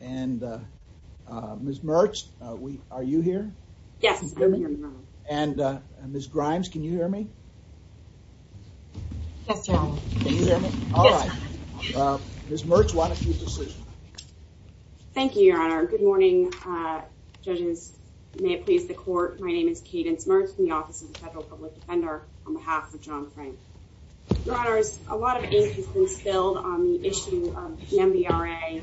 and Ms. Mertz, are you here? Yes, I'm here, Your Honor. And Ms. Grimes, can you hear me? Yes, Your Honor. Can you hear me? Yes, Your Honor. All right. Ms. Mertz, why don't you decide? Thank you, Your Honor. Good morning, judges. May it please the Court, my name is Cadence Mertz from the Office of the Federal Public Defender on behalf of Jon Frank. Your Honor, a lot of ink has been spilled on the issue of the MBRA,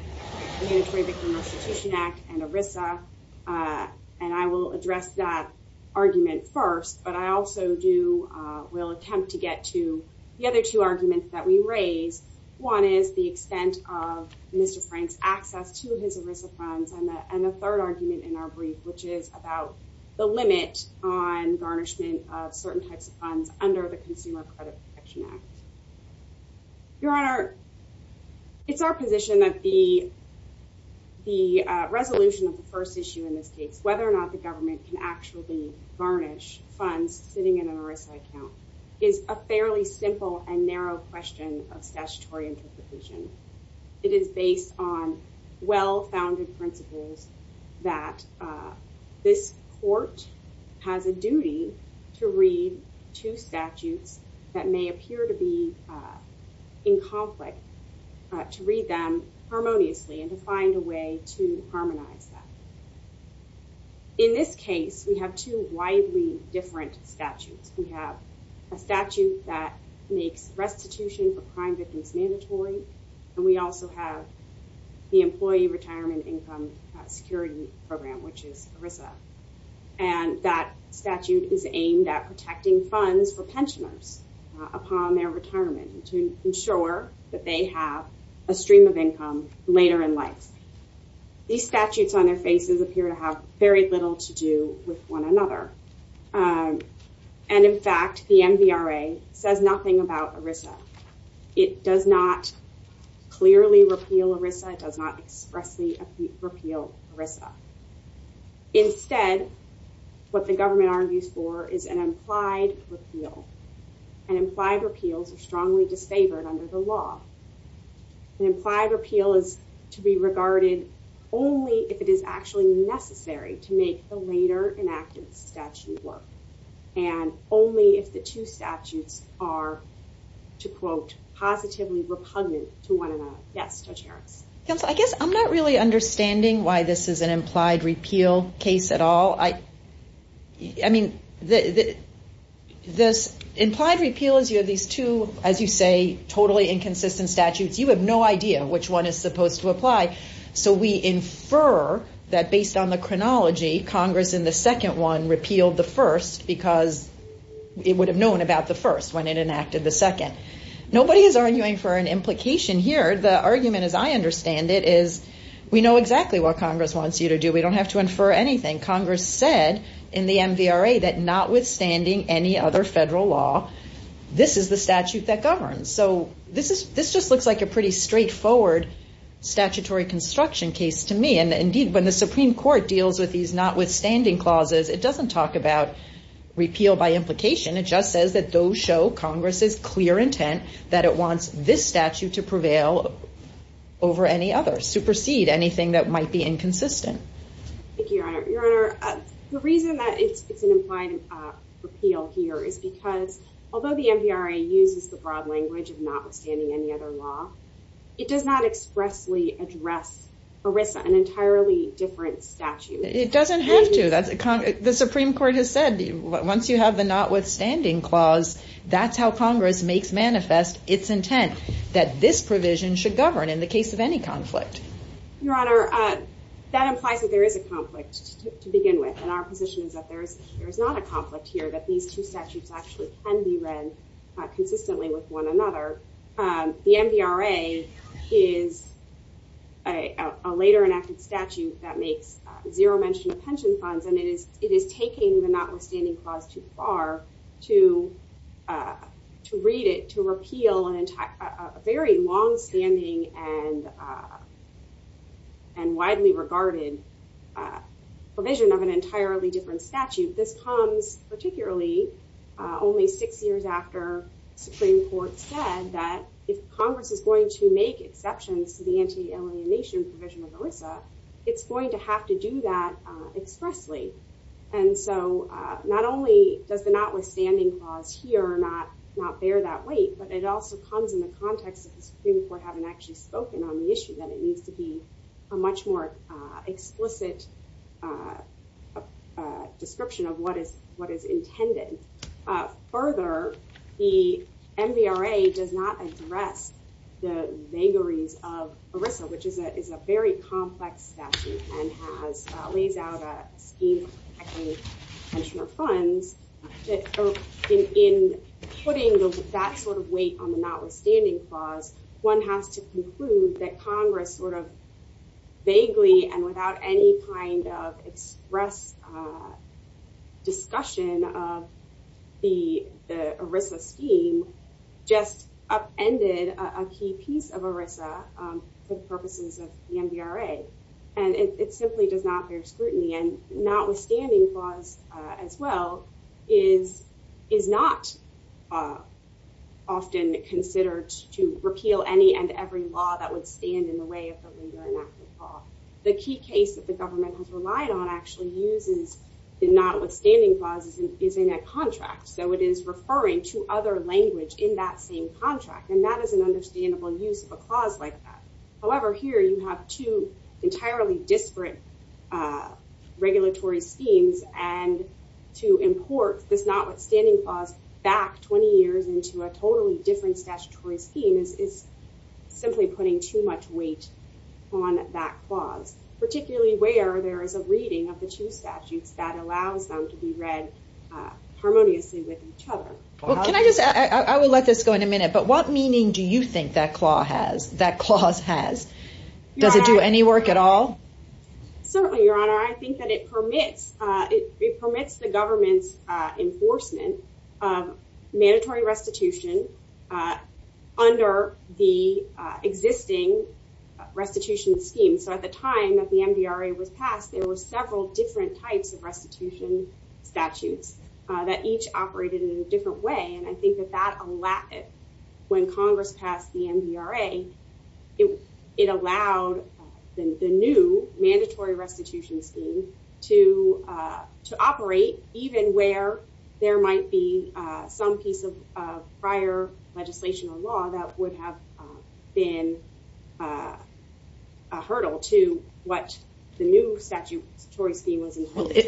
the Unitary Victim Restitution Act, and ERISA. And I will address that argument first, but I also will attempt to get to the other two arguments that we raised. One is the extent of Mr. Frank's access to his ERISA funds, and the third argument in our brief, which is about the limit on garnishment of certain types of funds under the Consumer Credit Protection Act. Your Honor, it's our position that the resolution of the first issue in this case, whether or not the government can actually garnish funds sitting in an ERISA account, is a fairly simple and narrow question of statutory interpretation. It is based on well-founded principles that this Court has a duty to read two statutes that may appear to be in conflict, to read them harmoniously and to find a way to harmonize that. In this case, we have two widely different statutes. We have a statute that makes restitution for crime victims mandatory, and we also have the Employee Retirement Income Security Program, which is ERISA. And that statute is aimed at protecting funds for pensioners upon their retirement to ensure that they have a stream of income later in life. These statutes on their faces appear to have very little to do with one another. And in fact, the MVRA says nothing about ERISA. It does not clearly repeal ERISA. It does not expressly repeal ERISA. Instead, what the government argues for is an implied repeal, and implied repeals are strongly disfavored under the law. An implied repeal is to be regarded only if it is actually necessary to make the later enacted statute work, and only if the two statutes are, to quote, positively repugnant to one another. Yes, Judge Harris? Counsel, I guess I'm not really understanding why this is an implied repeal case at all. I mean, this implied repeal is, you know, these two, as you say, totally inconsistent statutes. You have no idea which one is supposed to apply. So we infer that based on the chronology, Congress in the second one repealed the first because it would have known about the first when it enacted the second. Nobody is arguing for an implication here. The argument, as I understand it, is we know exactly what Congress wants you to do. We don't have to infer anything. Congress said in the MVRA that notwithstanding any other federal law, this is the statute that governs. So this just looks like a pretty straightforward statutory construction case to me. And indeed, when the Supreme Court deals with these notwithstanding clauses, it doesn't talk about repeal by implication. It just says that those show Congress's clear intent that it wants this statute to prevail over any other, supersede anything that might be inconsistent. Thank you, Your Honor. Your Honor, the reason that it's an implied repeal here is because although the MVRA uses the broad language of notwithstanding any other law, it does not expressly address ERISA, an entirely different statute. It doesn't have to. The Supreme Court has said once you have the notwithstanding clause, that's how Congress makes manifest its intent that this provision should govern in the case of any conflict. Your Honor, that implies that there is a conflict to begin with. And our position is that there is not a conflict here, that these two statutes actually can be read consistently with one another. The MVRA is a later enacted statute that makes zero mention of pension funds, and it is taking the notwithstanding clause too far to read it, to repeal a very longstanding and widely regarded provision of an entirely different statute. This comes particularly only six years after the Supreme Court said that if Congress is going to make exceptions to the anti-alienation provision of ERISA, it's going to have to do that expressly. And so not only does the notwithstanding clause here not bear that weight, but it also comes in the context of the Supreme Court having actually spoken on the issue, that it needs to be a much more explicit description of what is intended. Further, the MVRA does not address the vagaries of ERISA, which is a very complex statute and lays out a scheme of protecting pensioner funds. In putting that sort of weight on the notwithstanding clause, one has to conclude that Congress sort of vaguely and without any kind of express discussion of the ERISA scheme just upended a key piece of ERISA for the purposes of the MVRA. And it simply does not bear scrutiny. And notwithstanding clause, as well, is not often considered to repeal any and every law that would stand in the way of the legal and active law. The key case that the government has relied on actually uses the notwithstanding clause is in a contract. So it is referring to other language in that same contract. And that is an understandable use of a clause like that. However, here you have two entirely disparate regulatory schemes. And to import this notwithstanding clause back 20 years into a totally different statutory scheme is simply putting too much weight on that clause, particularly where there is a reading of the two statutes that allows them to be read harmoniously with each other. Well, can I just, I will let this go in a minute, but what meaning do you think that clause has? Does it do any work at all? Certainly, Your Honor. I think that it permits, it permits the government's enforcement of mandatory restitution under the existing restitution scheme. So at the time that the MDRA was passed, there were several different types of restitution statutes that each operated in a different way. And I think that that allowed, when Congress passed the MDRA, it allowed the new mandatory restitution scheme to operate, even where there might be some piece of prior legislation or law that would have been a hurdle to what the new statutory scheme was.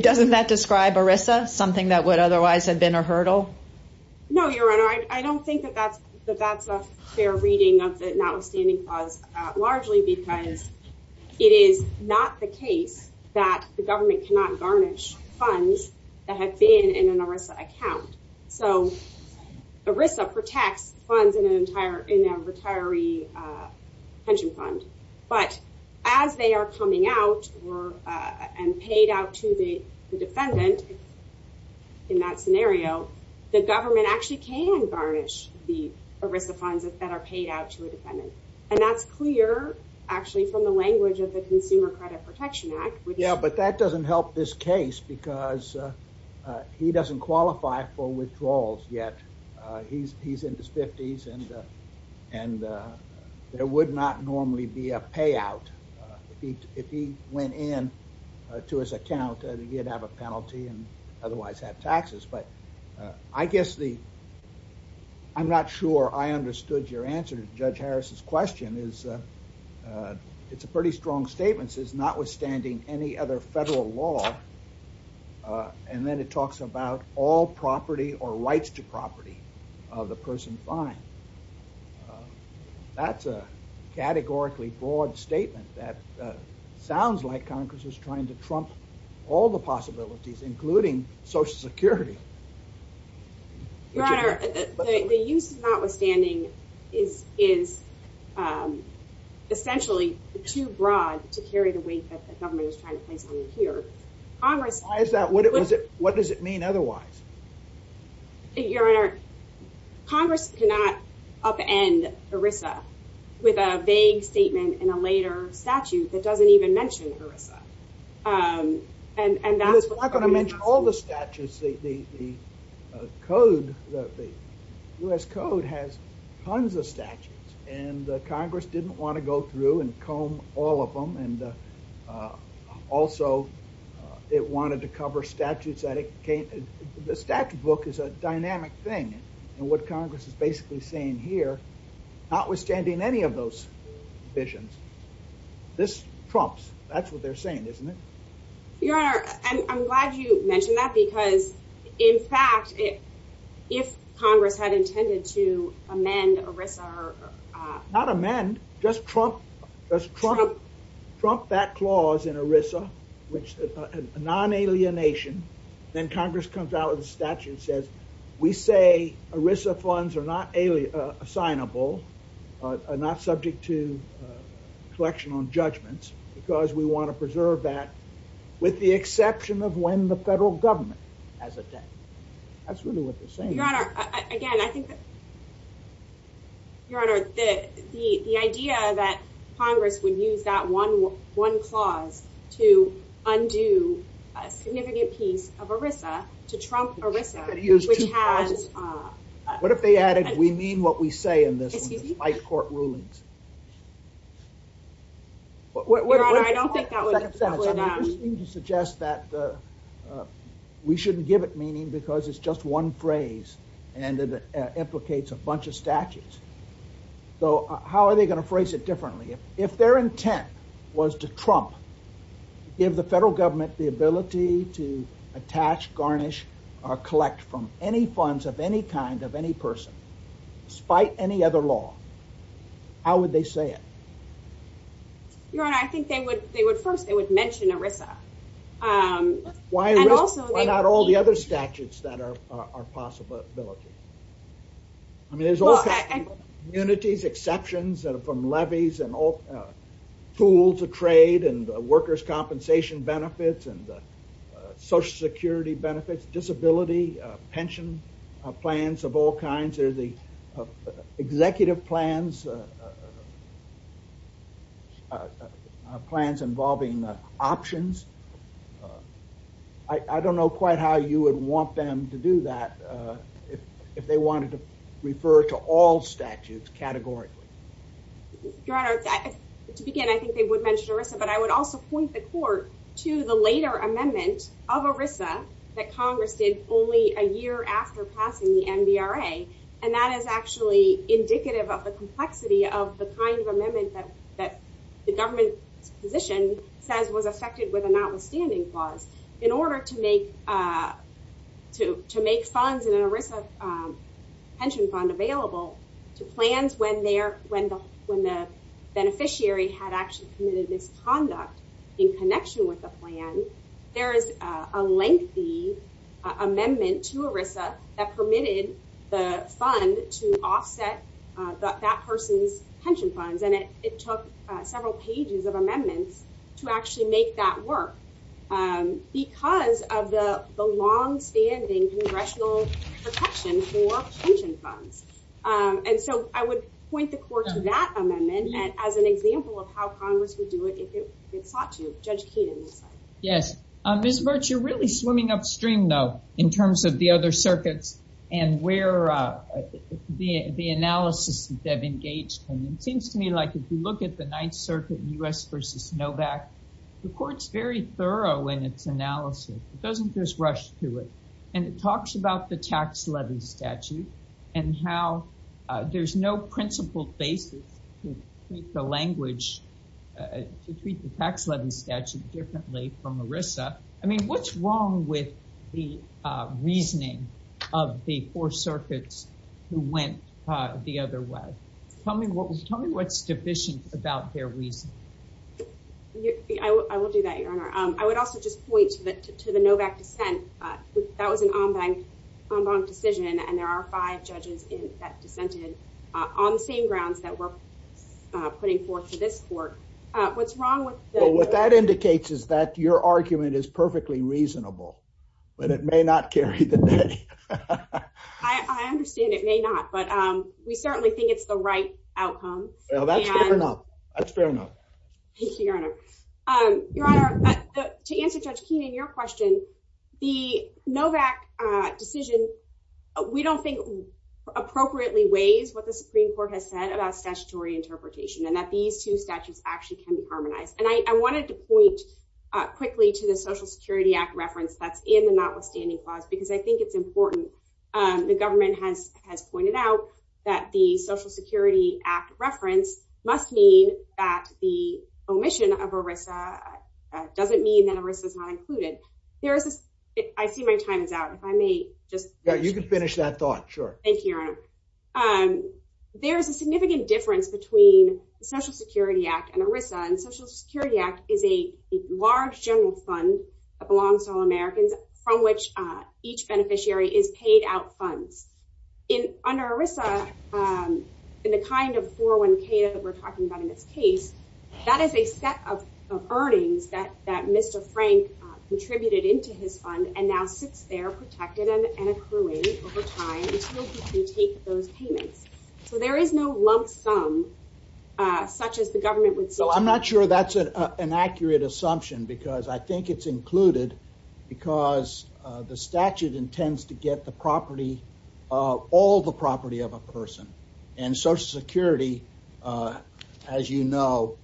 Doesn't that describe ERISA as something that would otherwise have been a hurdle? No, Your Honor. I don't think that that's a fair reading of the notwithstanding clause, largely because it is not the case that the government cannot garnish funds that have been in an ERISA account. So ERISA protects funds in a retiree pension fund, but as they are coming out and paid out to the defendant in that scenario, the government actually can garnish the ERISA funds that are paid out to a defendant. And that's clear, actually, from the language of the Consumer Credit Protection Act. Yeah, but that doesn't help this case because he doesn't qualify for withdrawals yet. He's in his 50s and there would not normally be a payout. If he went in to his account, he'd have a penalty and otherwise have taxes. But I guess the, I'm not sure I understood your answer to Judge Harris's question. It's a pretty strong statement. It's notwithstanding any other federal law. And then it talks about all property or rights to property of the person fined. That's a categorically broad statement that sounds like Congress is trying to trump all the possibilities, including Social Security. Your Honor, the use of notwithstanding is essentially too broad to carry the weight that the government is trying to place on you here. Why is that? What does it mean otherwise? Your Honor, Congress cannot upend ERISA with a vague statement in a later statute that doesn't even mention ERISA. I'm not going to mention all the statutes. The code, the U.S. Code has tons of statutes and Congress didn't want to go through and comb all of them. And also it wanted to cover statutes that it came, the statute book is a dynamic thing. And what Congress is basically saying here, notwithstanding any of those visions, this trumps. That's what they're saying, isn't it? Your Honor, I'm glad you mentioned that because in fact, if Congress had intended to amend ERISA. Not amend, just trump that clause in ERISA, which is a non-alienation. Then Congress comes out with a statute that says, we say ERISA funds are not assignable, are not subject to collection on judgments, because we want to preserve that with the exception of when the federal government has a debt. That's really what they're saying. Your Honor, again, I think that. Your Honor, the idea that Congress would use that one clause to undo a significant piece of ERISA to trump ERISA, which has. What if they added, we mean what we say in this, by court rulings. Your Honor, I don't think that would. You suggest that. We shouldn't give it meaning because it's just one phrase and it implicates a bunch of statutes. So how are they going to phrase it differently if their intent was to trump, give the federal government the ability to attach, garnish, or collect from any funds of any kind of any person, despite any other law. How would they say it? Your Honor, I think they would. They would. First, they would mention ERISA. Why not all the other statutes that are possibility? I mean, there's all kinds of communities, exceptions from levies and all tools of trade and workers' compensation benefits and social security benefits, disability, pension plans of all kinds. There's the executive plans, plans involving options. I don't know quite how you would want them to do that if they wanted to refer to all statutes categorically. Your Honor, to begin, I think they would mention ERISA, but I would also point the court to the later amendment of ERISA that Congress did only a year after passing the NBRA. And that is actually indicative of the complexity of the kind of amendment that the government's position says was affected with a notwithstanding clause. In order to make funds in an ERISA pension fund available to plans when the beneficiary had actually committed misconduct in connection with the plan, there is a lengthy amendment to ERISA that permitted the fund to offset that person's pension funds, and it took several pages of amendments to actually make that work. Because of the long-standing congressional protection for pension funds. And so I would point the court to that amendment as an example of how Congress would do it if it sought to. Judge Keenan. Yes. Ms. Virch, you're really swimming upstream, though, in terms of the other circuits and where the analysis that they've engaged in. It seems to me like if you look at the Ninth Circuit, U.S. versus Novak, the court's very thorough in its analysis. It doesn't just rush through it. And it talks about the tax levy statute and how there's no principled basis to treat the language, to treat the tax levy statute differently from ERISA. I mean, what's wrong with the reasoning of the four circuits who went the other way? Tell me what's deficient about their reasoning. I will do that, Your Honor. I would also just point to the Novak dissent. That was an en banc decision, and there are five judges that dissented on the same grounds that we're putting forth to this court. What's wrong with that? What that indicates is that your argument is perfectly reasonable, but it may not carry the day. I understand it may not, but we certainly think it's the right outcome. That's fair enough. That's fair enough. Thank you, Your Honor. Your Honor, to answer Judge Keenan, your question, the Novak decision, we don't think appropriately weighs what the Supreme Court has said about statutory interpretation and that these two statutes actually can be harmonized. I wanted to point quickly to the Social Security Act reference that's in the notwithstanding clause because I think it's important. The government has pointed out that the Social Security Act reference must mean that the omission of ERISA doesn't mean that ERISA is not included. I see my time is out. If I may just… You can finish that thought. Sure. Thank you, Your Honor. There's a significant difference between the Social Security Act and ERISA. The Social Security Act is a large general fund that belongs to all Americans from which each beneficiary is paid out funds. Under ERISA, in the kind of 401k that we're talking about in this case, that is a set of earnings that Mr. Frank contributed into his fund and now sits there protected and accruing over time until he can take those payments. So there is no lump sum such as the government would say. I'm not sure that's an accurate assumption because I think it's included because the statute intends to get the property, all the property of a person. And Social Security, as you know,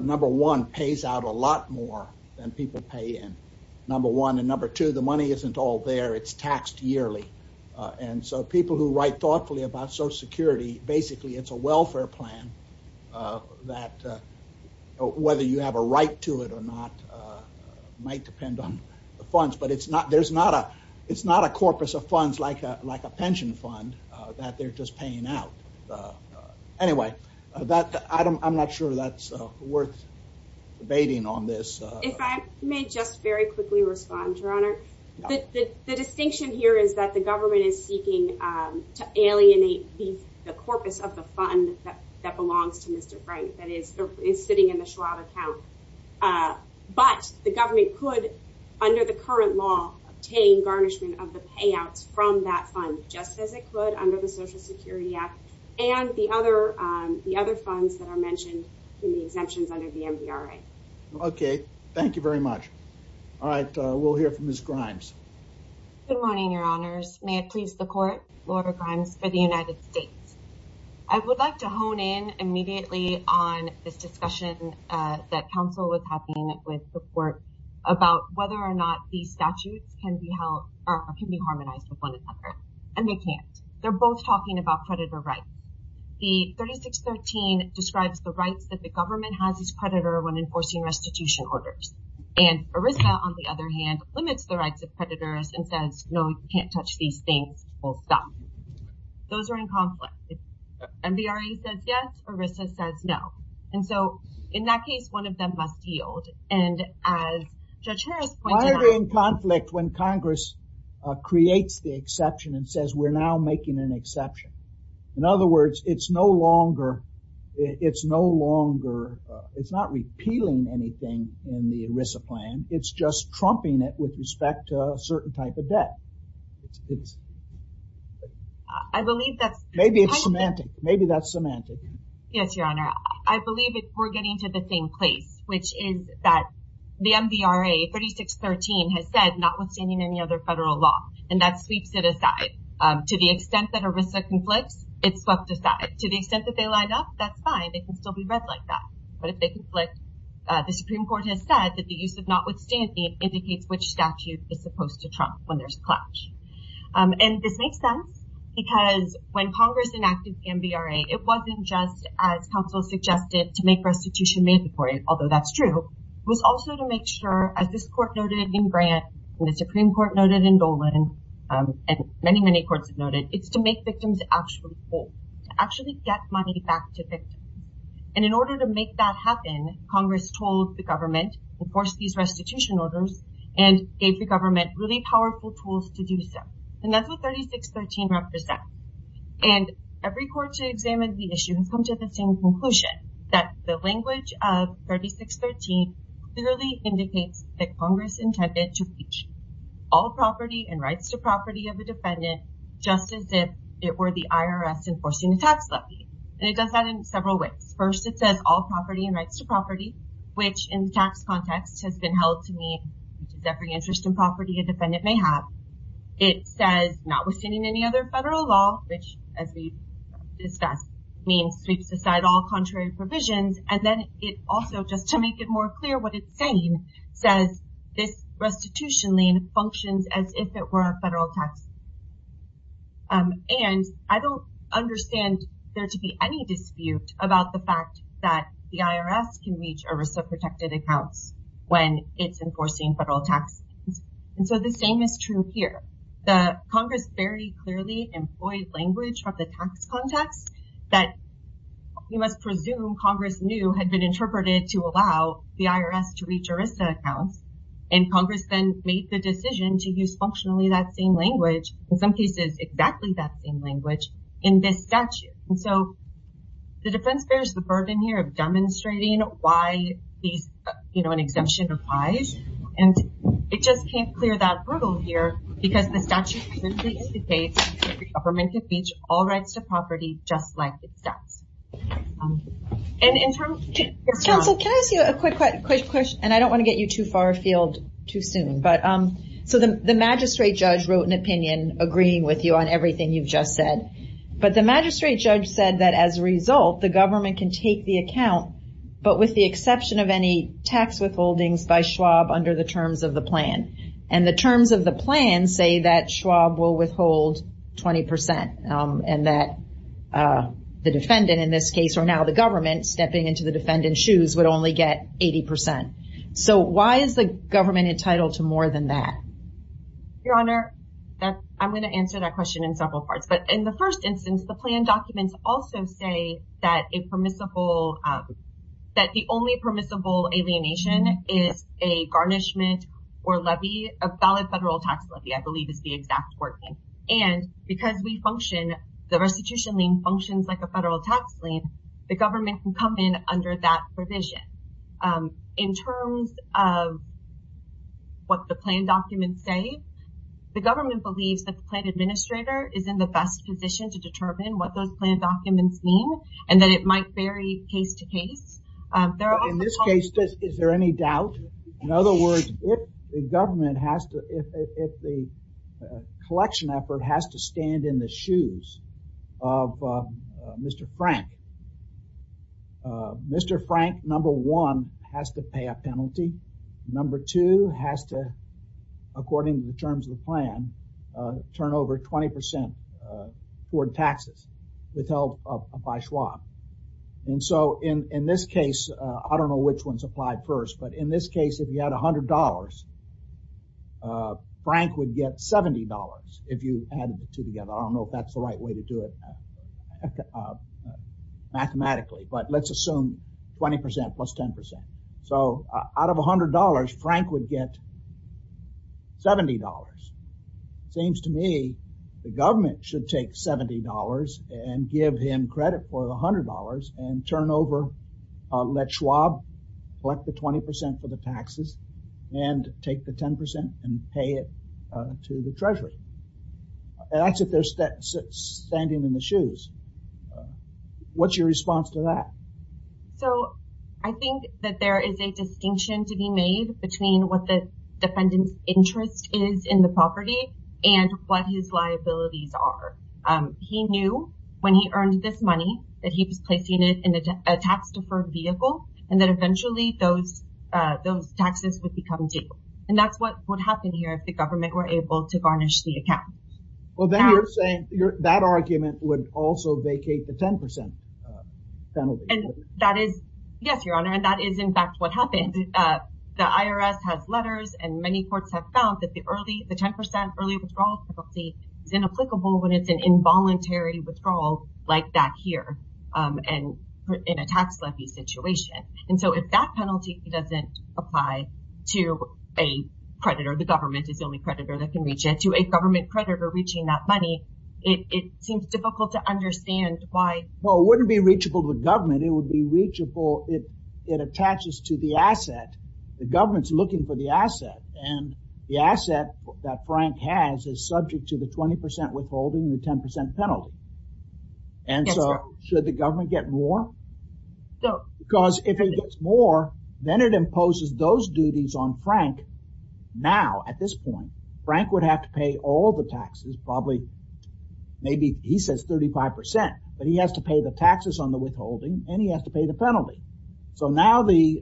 number one, pays out a lot more than people pay in. Number one and number two, the money isn't all there. It's taxed yearly. And so people who write thoughtfully about Social Security, basically it's a welfare plan that whether you have a right to it or not might depend on the funds. But it's not a corpus of funds like a pension fund that they're just paying out. Anyway, I'm not sure that's worth debating on this. If I may just very quickly respond, Your Honor. The distinction here is that the government is seeking to alienate the corpus of the fund that belongs to Mr. Frank that is sitting in the Schwab account. But the government could, under the current law, obtain garnishment of the payouts from that fund just as it could under the Social Security Act and the other funds that are mentioned in the exemptions under the MVRA. Thank you very much. All right, we'll hear from Ms. Grimes. Good morning, Your Honors. May it please the court, Laura Grimes for the United States. I would like to hone in immediately on this discussion that counsel was having with the court about whether or not these statutes can be held or can be harmonized with one another. And they can't. They're both talking about predator rights. The 3613 describes the rights that the government has as predator when enforcing restitution orders. And ERISA, on the other hand, limits the rights of predators and says, no, you can't touch these things. Those are in conflict. MVRA says yes, ERISA says no. And so in that case, one of them must yield. And as Judge Harris pointed out- Why are they in conflict when Congress creates the exception and says we're now making an exception? In other words, it's no longer, it's no longer, it's not repealing anything in the ERISA plan. It's just trumping it with respect to a certain type of debt. I believe that's- Maybe it's semantic. Maybe that's semantic. Yes, Your Honor. I believe we're getting to the same place, which is that the MVRA 3613 has said notwithstanding any other federal law. And that sweeps it aside. To the extent that ERISA conflicts, it's swept aside. To the extent that they lined up, that's fine. They can still be read like that. But if they conflict, the Supreme Court has said that the use of notwithstanding indicates which statute is supposed to trump when there's clout. And this makes sense because when Congress enacted MVRA, it wasn't just, as counsel suggested, to make restitution mandatory, although that's true. It was also to make sure, as this Court noted in Grant, and the Supreme Court noted in Dolan, and many, many courts have noted, it's to make victims actually pay. To actually get money back to victims. And in order to make that happen, Congress told the government, enforced these restitution orders, and gave the government really powerful tools to do so. And that's what 3613 represents. And every court to examine the issue has come to the same conclusion. That the language of 3613 clearly indicates that Congress intended to breach all property and rights to property of a defendant, just as if it were the IRS enforcing a tax levy. And it does that in several ways. First, it says all property and rights to property, which in the tax context has been held to mean every interest in property a defendant may have. It says not withstanding any other federal law, which as we discussed means sweeps aside all contrary provisions. And then it also, just to make it more clear what it's saying, says this restitution lien functions as if it were a federal tax lien. And I don't understand there to be any dispute about the fact that the IRS can reach a risk of protected accounts when it's enforcing federal tax liens. And so the same is true here. Congress very clearly employed language from the tax context that you must presume Congress knew had been interpreted to allow the IRS to reach arrested accounts. And Congress then made the decision to use functionally that same language, in some cases exactly that same language, in this statute. And so the defense bears the burden here of demonstrating why an exemption applies. And it just can't clear that hurdle here because the statute simply indicates that the government can reach all rights to property just like it does. And in terms of- Counsel, can I ask you a quick question? And I don't want to get you too far afield too soon. So the magistrate judge wrote an opinion agreeing with you on everything you've just said. But the magistrate judge said that as a result, the government can take the account, but with the exception of any tax withholdings by Schwab under the terms of the plan. And the terms of the plan say that Schwab will withhold 20%. And that the defendant in this case, or now the government, stepping into the defendant's shoes would only get 80%. So why is the government entitled to more than that? Your Honor, I'm going to answer that question in several parts. But in the first instance, the plan documents also say that a permissible- that the only permissible alienation is a garnishment or levy, a valid federal tax levy, I believe is the exact wording. And because we function, the restitution lien functions like a federal tax lien, the government can come in under that provision. But in terms of what the plan documents say, the government believes that the plan administrator is in the best position to determine what those plan documents mean. And that it might vary case to case. In this case, is there any doubt? In other words, if the government has to- if the collection effort has to stand in the shoes of Mr. Frank, Mr. Frank, number one, has to pay a penalty. Number two has to, according to the terms of the plan, turn over 20% for taxes with the help of- by Schwab. And so in this case, I don't know which one's applied first, but in this case, if you had $100, Frank would get $70 if you added the two together. I don't know if that's the right way to do it. Mathematically, but let's assume 20% plus 10%. So out of $100, Frank would get $70. Seems to me the government should take $70 and give him credit for the $100 and turn over, let Schwab collect the 20% for the taxes and take the 10% and pay it to the treasury. That's if they're standing in the shoes. What's your response to that? So I think that there is a distinction to be made between what the defendant's interest is in the property and what his liabilities are. He knew when he earned this money that he was placing it in a tax deferred vehicle and that eventually those taxes would become due. And that's what would happen here if the government were able to garnish the account. Well, then you're saying that argument would also vacate the 10% penalty. Yes, Your Honor, and that is in fact what happened. The IRS has letters and many courts have found that the 10% early withdrawal penalty is inapplicable when it's an involuntary withdrawal like that here and in a tax levy situation. And so if that penalty doesn't apply to a creditor, the government is the only creditor that can reach it. To a government creditor reaching that money, it seems difficult to understand why. Well, it wouldn't be reachable with government, it would be reachable if it attaches to the asset. The government's looking for the asset and the asset that Frank has is subject to the 20% withholding and the 10% penalty. And so should the government get more? Because if it gets more, then it imposes those duties on Frank. Now, at this point, Frank would have to pay all the taxes, probably maybe he says 35%, but he has to pay the taxes on the withholding and he has to pay the penalty. So now the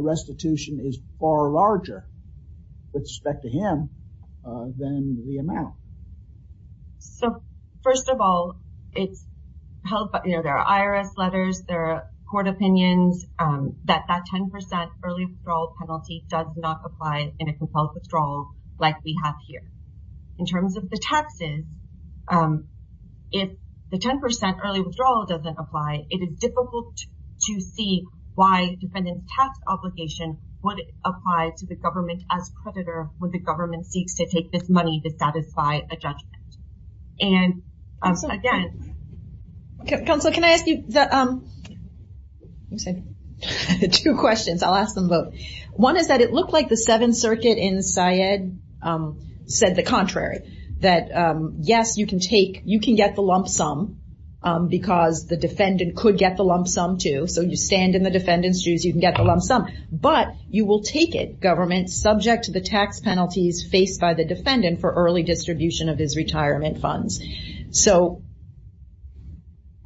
restitution is far larger with respect to him than the amount. So first of all, there are IRS letters, there are court opinions that that 10% early withdrawal penalty does not apply in a compelled withdrawal like we have here. In terms of the taxes, if the 10% early withdrawal doesn't apply, it is difficult to see why defendant's tax obligation would apply to the government as creditor when the government seeks to take this money to satisfy a judgment. And so again... Counselor, can I ask you two questions? I'll ask them both. One is that it looked like the Seventh Circuit in Syed said the contrary. That yes, you can take, you can get the lump sum because the defendant could get the lump sum too. So you stand in the defendant's shoes, you can get the lump sum, but you will take it, government, subject to the tax penalties faced by the defendant for early distribution of his retirement funds. So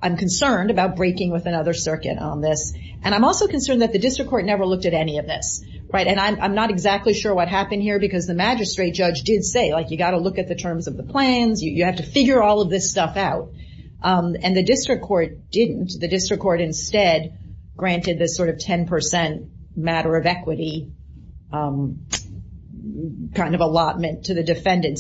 I'm concerned about breaking with another circuit on this. And I'm also concerned that the district court never looked at any of this. And I'm not exactly sure what happened here because the magistrate judge did say, like, you got to look at the terms of the plans, you have to figure all of this stuff out. And the district court didn't. The district court instead granted this sort of 10% matter of equity kind of allotment to the defendant.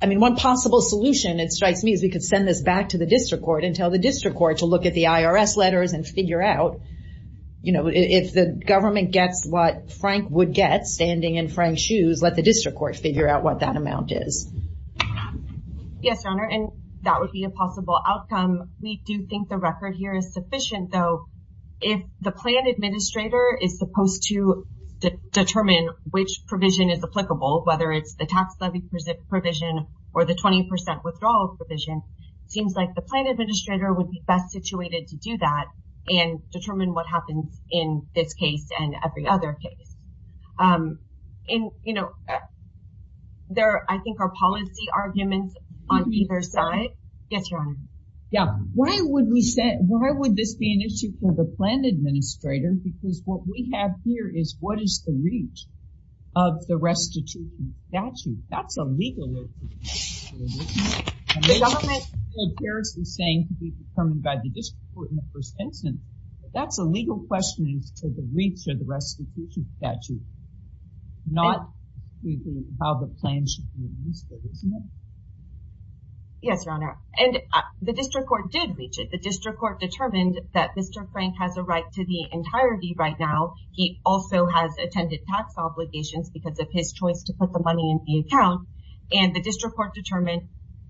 I mean, one possible solution, it strikes me, is we could send this back to the district court and tell the district court to look at the IRS letters and figure out, you know, if the government gets what Frank would get, standing in Frank's shoes, let the district court figure out what that amount is. Yes, Your Honor, and that would be a possible outcome. We do think the record here is sufficient, though. If the plan administrator is supposed to determine which provision is applicable, whether it's the tax levy provision or the 20% withdrawal provision, it seems like the plan administrator would be best situated to do that and determine what happens in this case and every other case. And, you know, there, I think, are policy arguments on either side. Yes, Your Honor. Yeah, why would we say, why would this be an issue for the plan administrator? Because what we have here is what is the reach of the restitution statute? That's a legal issue. The government is saying to be determined by the district court in the first instance, but that's a legal question as to the reach of the restitution statute, not how the plan should be administered, isn't it? Yes, Your Honor, and the district court did reach it. The district court determined that Mr. Frank has a right to the entirety right now. He also has attendant tax obligations because of his choice to put the money in the account. And the district court determined,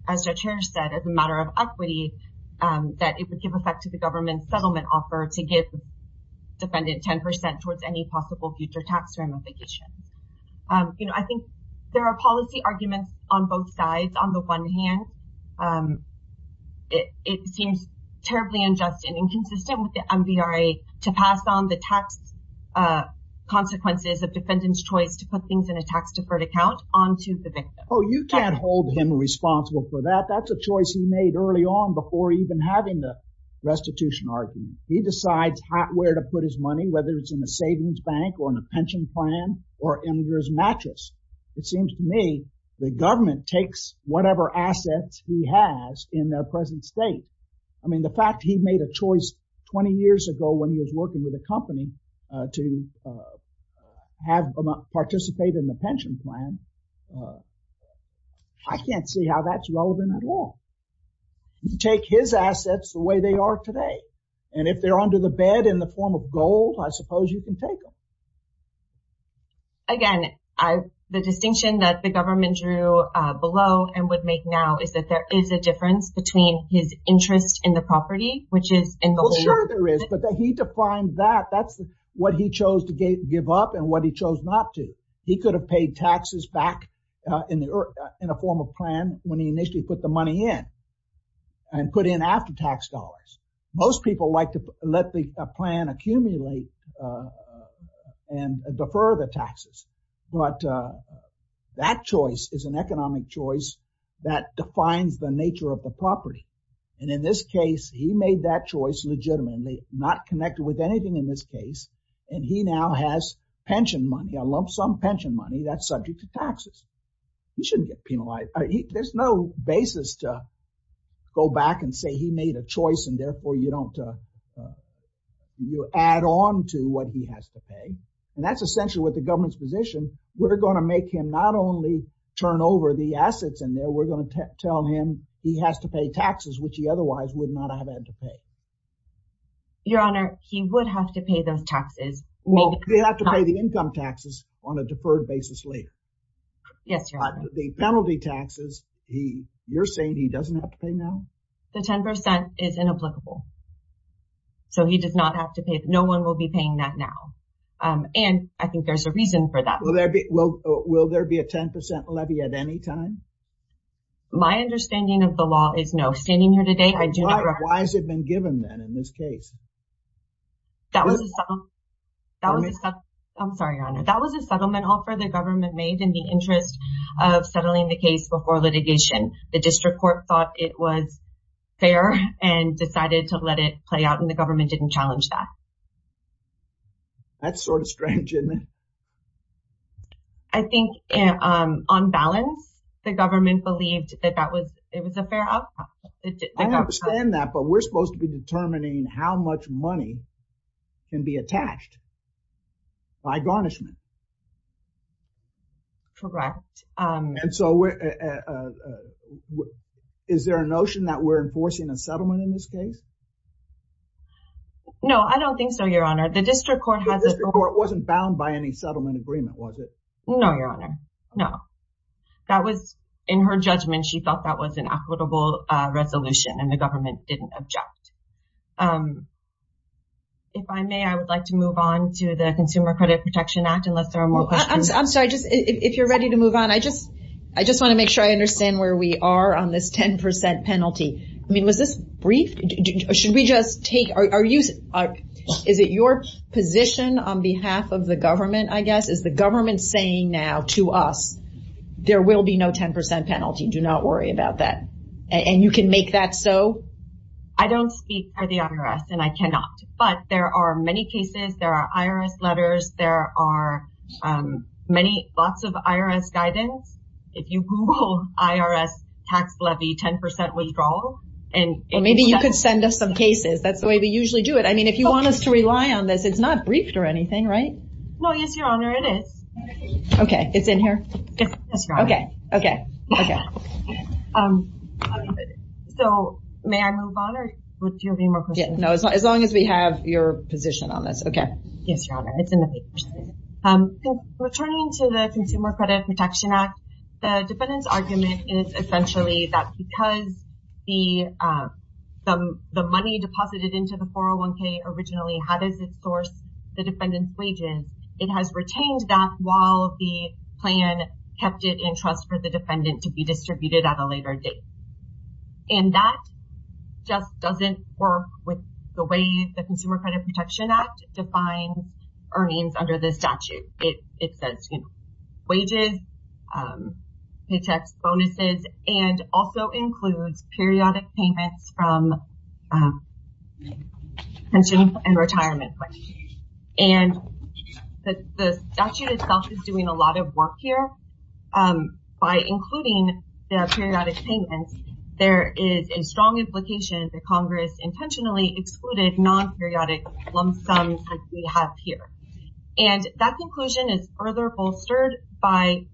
as Judge Harris said, as a matter of equity, that it would give effect to the government settlement offer to give defendant 10% towards any possible future tax ramifications. You know, I think there are policy arguments on both sides. On the one hand, it seems terribly unjust and inconsistent with the MVRA to pass on the tax consequences of defendant's choice to put things in a tax deferred account on to the victim. Oh, you can't hold him responsible for that. That's a choice he made early on before even having the restitution argument. He decides where to put his money, whether it's in a savings bank or in a pension plan or in his mattress. It seems to me the government takes whatever assets he has in their present state. I mean, the fact he made a choice 20 years ago when he was working with a company to participate in the pension plan, I can't see how that's relevant at all. Take his assets the way they are today. And if they're under the bed in the form of gold, I suppose you can take them. Again, the distinction that the government drew below and would make now is that there is a difference between his interest in the property, which is in the law. But he defined that. That's what he chose to give up and what he chose not to. He could have paid taxes back in a form of plan when he initially put the money in and put in after-tax dollars. Most people like to let the plan accumulate and defer the taxes. But that choice is an economic choice that defines the nature of the property. And in this case, he made that choice legitimately, not connected with anything in this case. And he now has pension money. I love some pension money that's subject to taxes. He shouldn't get penalized. There's no basis to go back and say he made a choice and therefore you don't add on to what he has to pay. And that's essentially what the government's position. We're going to make him not only turn over the assets in there, we're going to tell him he has to pay taxes, which he otherwise would not have had to pay. Your Honor, he would have to pay those taxes. Well, he'd have to pay the income taxes on a deferred basis later. Yes, Your Honor. The penalty taxes, you're saying he doesn't have to pay now? The 10% is inapplicable. So he does not have to pay. No one will be paying that now. And I think there's a reason for that. Will there be a 10% levy at any time? My understanding of the law is no. Standing here today, I do not... Why has it been given then in this case? That was a settlement offer the government made in the interest of settling the case before litigation. The district court thought it was fair and decided to let it play out and the government didn't challenge that. That's sort of strange, isn't it? I think on balance, the government believed that it was a fair outcome. I understand that, but we're supposed to be determining how much money can be attached by garnishment. Correct. And so is there a notion that we're enforcing a settlement in this case? No, I don't think so, Your Honor. The district court has... It wasn't done by any settlement agreement, was it? No, Your Honor. No. In her judgment, she thought that was an equitable resolution and the government didn't object. If I may, I would like to move on to the Consumer Credit Protection Act unless there are more questions. I'm sorry. If you're ready to move on, I just want to make sure I understand where we are on this 10% penalty. Was this brief? Is it your position on behalf of the government, I guess? Is the government saying now to us, there will be no 10% penalty, do not worry about that? And you can make that so? I don't speak for the IRS and I cannot, but there are many cases, there are IRS letters, there are lots of IRS guidance. If you Google IRS tax levy 10% withdrawal and... Or maybe you could send us some cases. That's the way we usually do it. I mean, if you want us to rely on this, it's not briefed or anything, right? No, yes, Your Honor, it is. Okay. It's in here? Yes, Your Honor. Okay. Okay. Okay. So may I move on or would you have any more questions? No, as long as we have your position on this. Okay. Yes, Your Honor. It's in the papers. Returning to the Consumer Credit Protection Act, the defendant's argument is essentially that because the money deposited into the 401k originally, how does it source the defendant's wages? It has retained that while the plan kept it in trust for the defendant to be distributed at a later date. And that just doesn't work with the way the Consumer Credit Protection Act defines earnings under the statute. It says wages, paychecks, bonuses, and also includes periodic payments from pension and retirement money. And the statute itself is doing a lot of work here. By including the periodic payments, there is a strong implication that Congress intentionally excluded non-periodic lump sums like we have here. And that conclusion is further bolstered by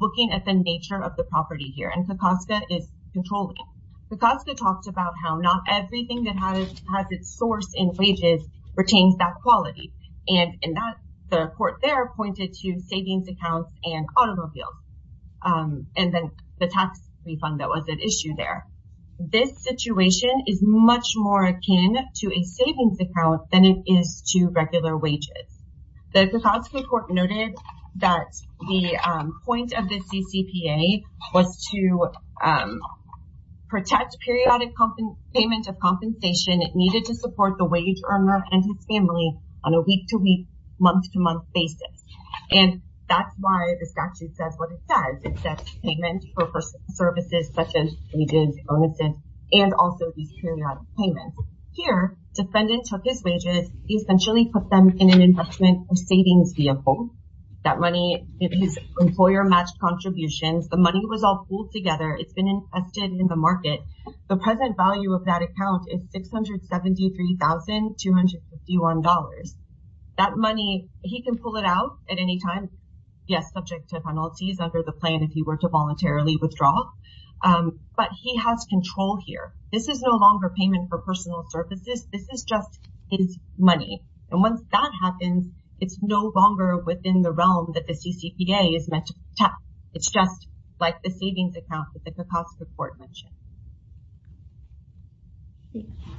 looking at the nature of the property here, and Kokoska is controlling it. Kokoska talked about how not everything that has its source in wages retains that quality. And the court there pointed to savings accounts and automobiles. And then the tax refund that was at issue there. This situation is much more akin to a savings account than it is to regular wages. The Kokoska court noted that the point of the CCPA was to protect periodic payment of compensation needed to support the wage earner and his family on a week-to-week, month-to-month basis. And that's why the statute says what it says. It says payment for services such as wages, bonuses, and also these periodic payments. Here, defendant took his wages, essentially put them in an investment or savings vehicle. That money is employer-matched contributions. The money was all pooled together. It's been invested in the market. The present value of that account is $673,251. That money, he can pull it out at any time. Yes, subject to penalties under the plan if he were to voluntarily withdraw. But he has control here. This is no longer payment for personal services. This is just his money. And once that happens, it's no longer within the realm that the CCPA is meant to protect. It's just like the savings account that the Kokoska court mentioned.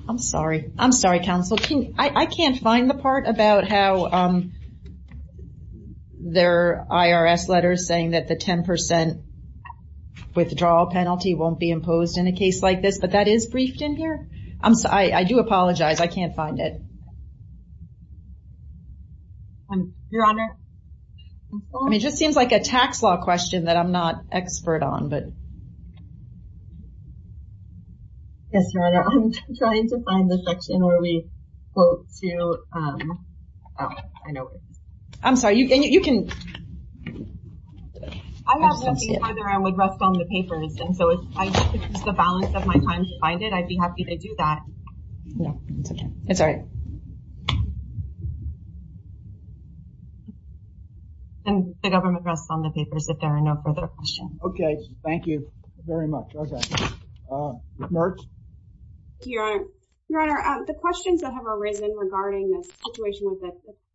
I'm sorry. I'm sorry, counsel. I can't find the part about how their IRS letter is saying that the 10% withdrawal penalty won't be imposed in a case like this. But that is briefed in here. I do apologize. I can't find it. Your Honor. I mean, it just seems like a tax law question that I'm not expert on. Yes, Your Honor. I'm trying to find the section where we go to. I know where it is. I'm sorry. You can. I have no idea whether I would rest on the papers. And so if I could use the balance of my time to find it, I'd be happy to do that. No, it's okay. It's all right. And the government rests on the papers if there are no further questions. Okay. Thank you very much. Okay. Ms. Mertz. Thank you, Your Honor. Your Honor, the questions that have arisen regarding the situation with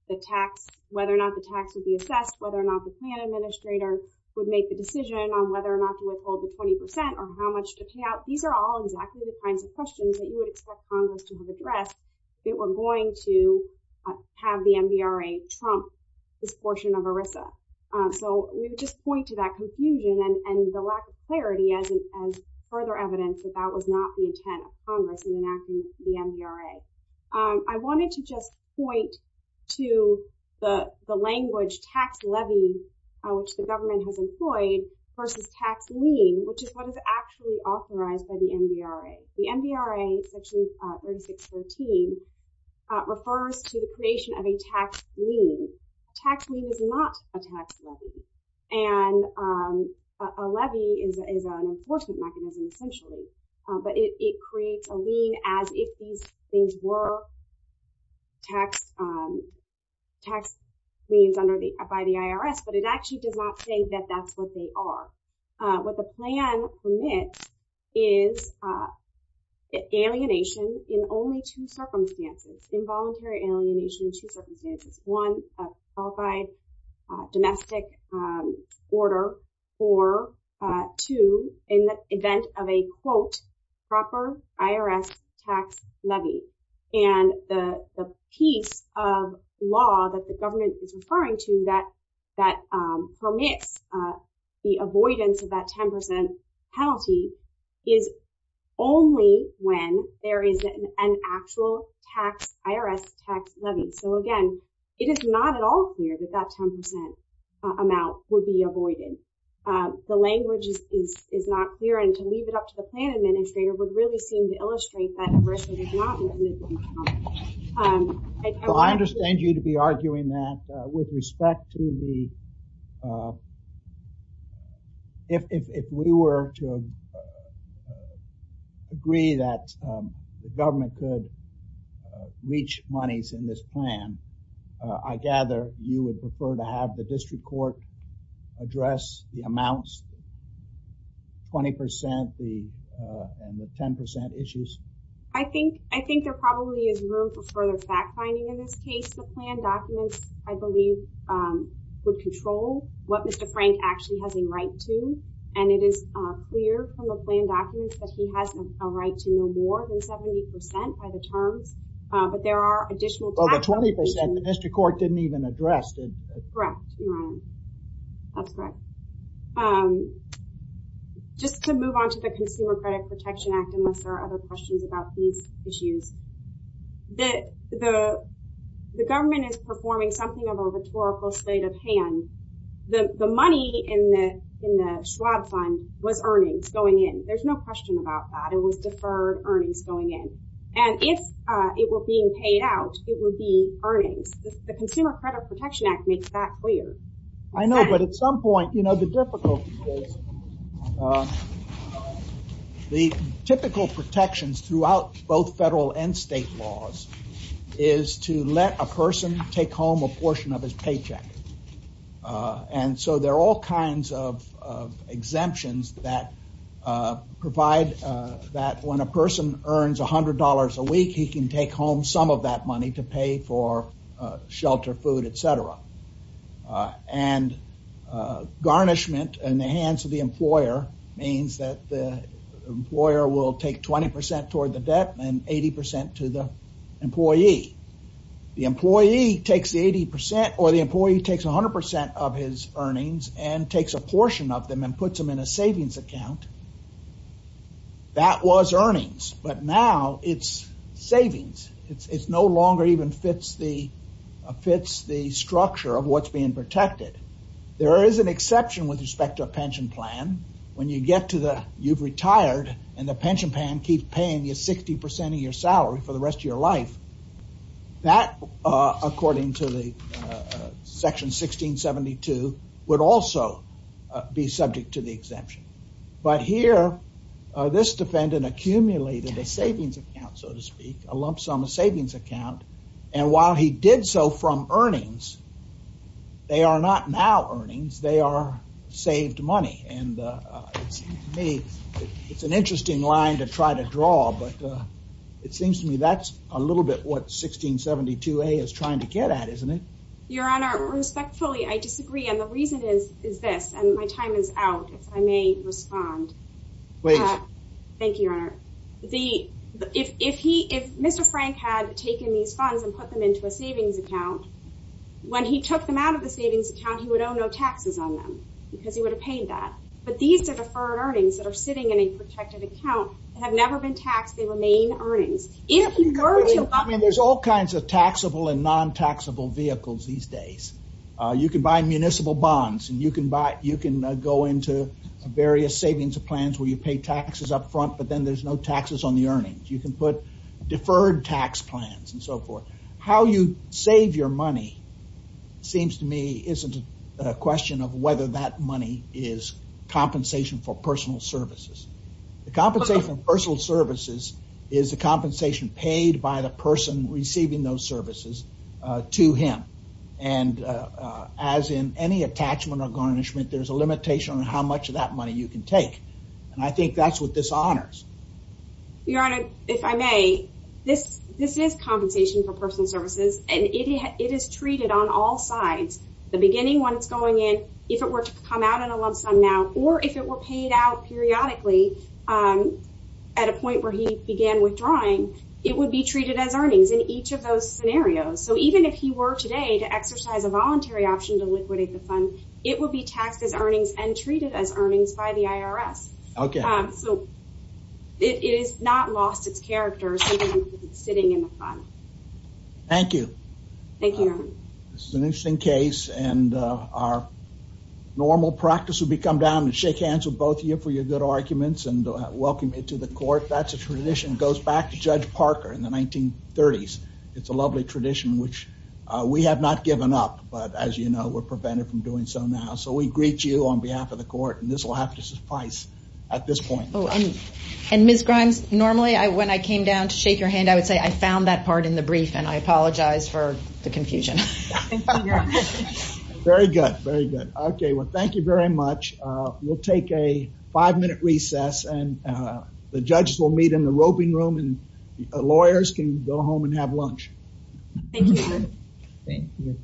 the tax, whether or not the tax would be assessed, whether or not the plan administrator would make the decision on whether or not to withhold the 20% or how much to pay out. These are all exactly the kinds of questions that you would expect Congress to have addressed if it were going to have the MDRA trump this portion of ERISA. So we would just point to that confusion and the lack of clarity as further evidence that that was not the intent of Congress in enacting the MDRA. I wanted to just point to the language tax levy, which the government has employed, versus tax lien, which is what is actually authorized by the MDRA. The MDRA, section 3614, refers to the creation of a tax lien. A tax lien is not a tax levy, and a levy is an enforcement mechanism, essentially. But it creates a lien as if these things were tax liens by the IRS, but it actually does not say that that's what they are. What the plan permits is alienation in only two circumstances, involuntary alienation in two circumstances. One, a qualified domestic order, or two, in the event of a, quote, proper IRS tax levy. And the piece of law that the government is referring to that permits the avoidance of that 10% penalty is only when there is an actual IRS tax levy. So, again, it is not at all clear that that 10% amount would be avoided. The language is not clear, and to leave it up to the plan administrator would really seem to illustrate that a risk is not included in Congress. I understand you to be arguing that with respect to the, if we were to agree that the government could reach monies in this plan, I gather you would prefer to have the district court address the amounts, 20% and the 10% issues? I think there probably is room for further fact-finding in this case. The plan documents, I believe, would control what Mr. Frank actually has a right to, and it is clear from the plan documents that he has a right to no more than 70% by the terms, but there are additional tax... Well, the 20% the district court didn't even address. Correct. That's correct. Just to move on to the Consumer Credit Protection Act, unless there are other questions about these issues, the government is performing something of a rhetorical state of hand. The money in the Schwab Fund was earnings going in. There's no question about that. It was deferred earnings going in, and if it were being paid out, it would be earnings. The Consumer Credit Protection Act makes that clear. I know, but at some point, you know, the difficulty is... The typical protections throughout both federal and state laws is to let a person take home a portion of his paycheck. And so there are all kinds of exemptions that provide that when a person earns $100 a week, he can take home some of that money to pay for shelter, food, etc. And garnishment in the hands of the employer means that the employer will take 20% toward the debt and 80% to the employee. The employee takes the 80% or the employee takes 100% of his earnings and takes a portion of them and puts them in a savings account. That was earnings, but now it's savings. It no longer even fits the structure of what's being protected. There is an exception with respect to a pension plan. When you get to the, you've retired and the pension plan keeps paying you 60% of your salary for the rest of your life. That, according to the Section 1672, would also be subject to the exemption. Now here, this defendant accumulated a savings account, so to speak, a lump sum savings account. And while he did so from earnings, they are not now earnings, they are saved money. And it's an interesting line to try to draw, but it seems to me that's a little bit what 1672A is trying to get at, isn't it? Your Honor, respectfully, I disagree. And the reason is this, and my time is out, if I may respond. Please. Thank you, Your Honor. If Mr. Frank had taken these funds and put them into a savings account, when he took them out of the savings account, he would owe no taxes on them because he would have paid that. But these are deferred earnings that are sitting in a protected account that have never been taxed. They remain earnings. I mean, there's all kinds of taxable and non-taxable vehicles these days. You can buy municipal bonds and you can buy, you can go into various savings plans where you pay taxes up front, but then there's no taxes on the earnings. You can put deferred tax plans and so forth. How you save your money seems to me isn't a question of whether that money is compensation for personal services. The compensation for personal services is the compensation paid by the person receiving those services to him. And as in any attachment or garnishment, there's a limitation on how much of that money you can take. And I think that's what this honors. Your Honor, if I may, this is compensation for personal services and it is treated on all sides. The beginning, when it's going in, if it were to come out in a lump sum now, or if it were paid out periodically at a point where he began withdrawing, it would be treated as earnings in each of those scenarios. So even if he were today to exercise a voluntary option to liquidate the fund, it would be taxed as earnings and treated as earnings by the IRS. So it has not lost its character sitting in the fund. Thank you. Thank you, Your Honor. This is an interesting case and our normal practice would be to come down and shake hands with both of you for your good arguments and welcome you to the court. That's a tradition that goes back to Judge Parker in the 1930s. It's a lovely tradition which we have not given up. But as you know, we're prevented from doing so now. So we greet you on behalf of the court and this will have to suffice at this point. And Ms. Grimes, normally when I came down to shake your hand, I would say I found that part in the brief and I apologize for the confusion. Very good. Very good. Okay. Well, thank you very much. We'll take a five minute recess and the judges will meet in the roping room and lawyers can go home and have lunch. Thank you.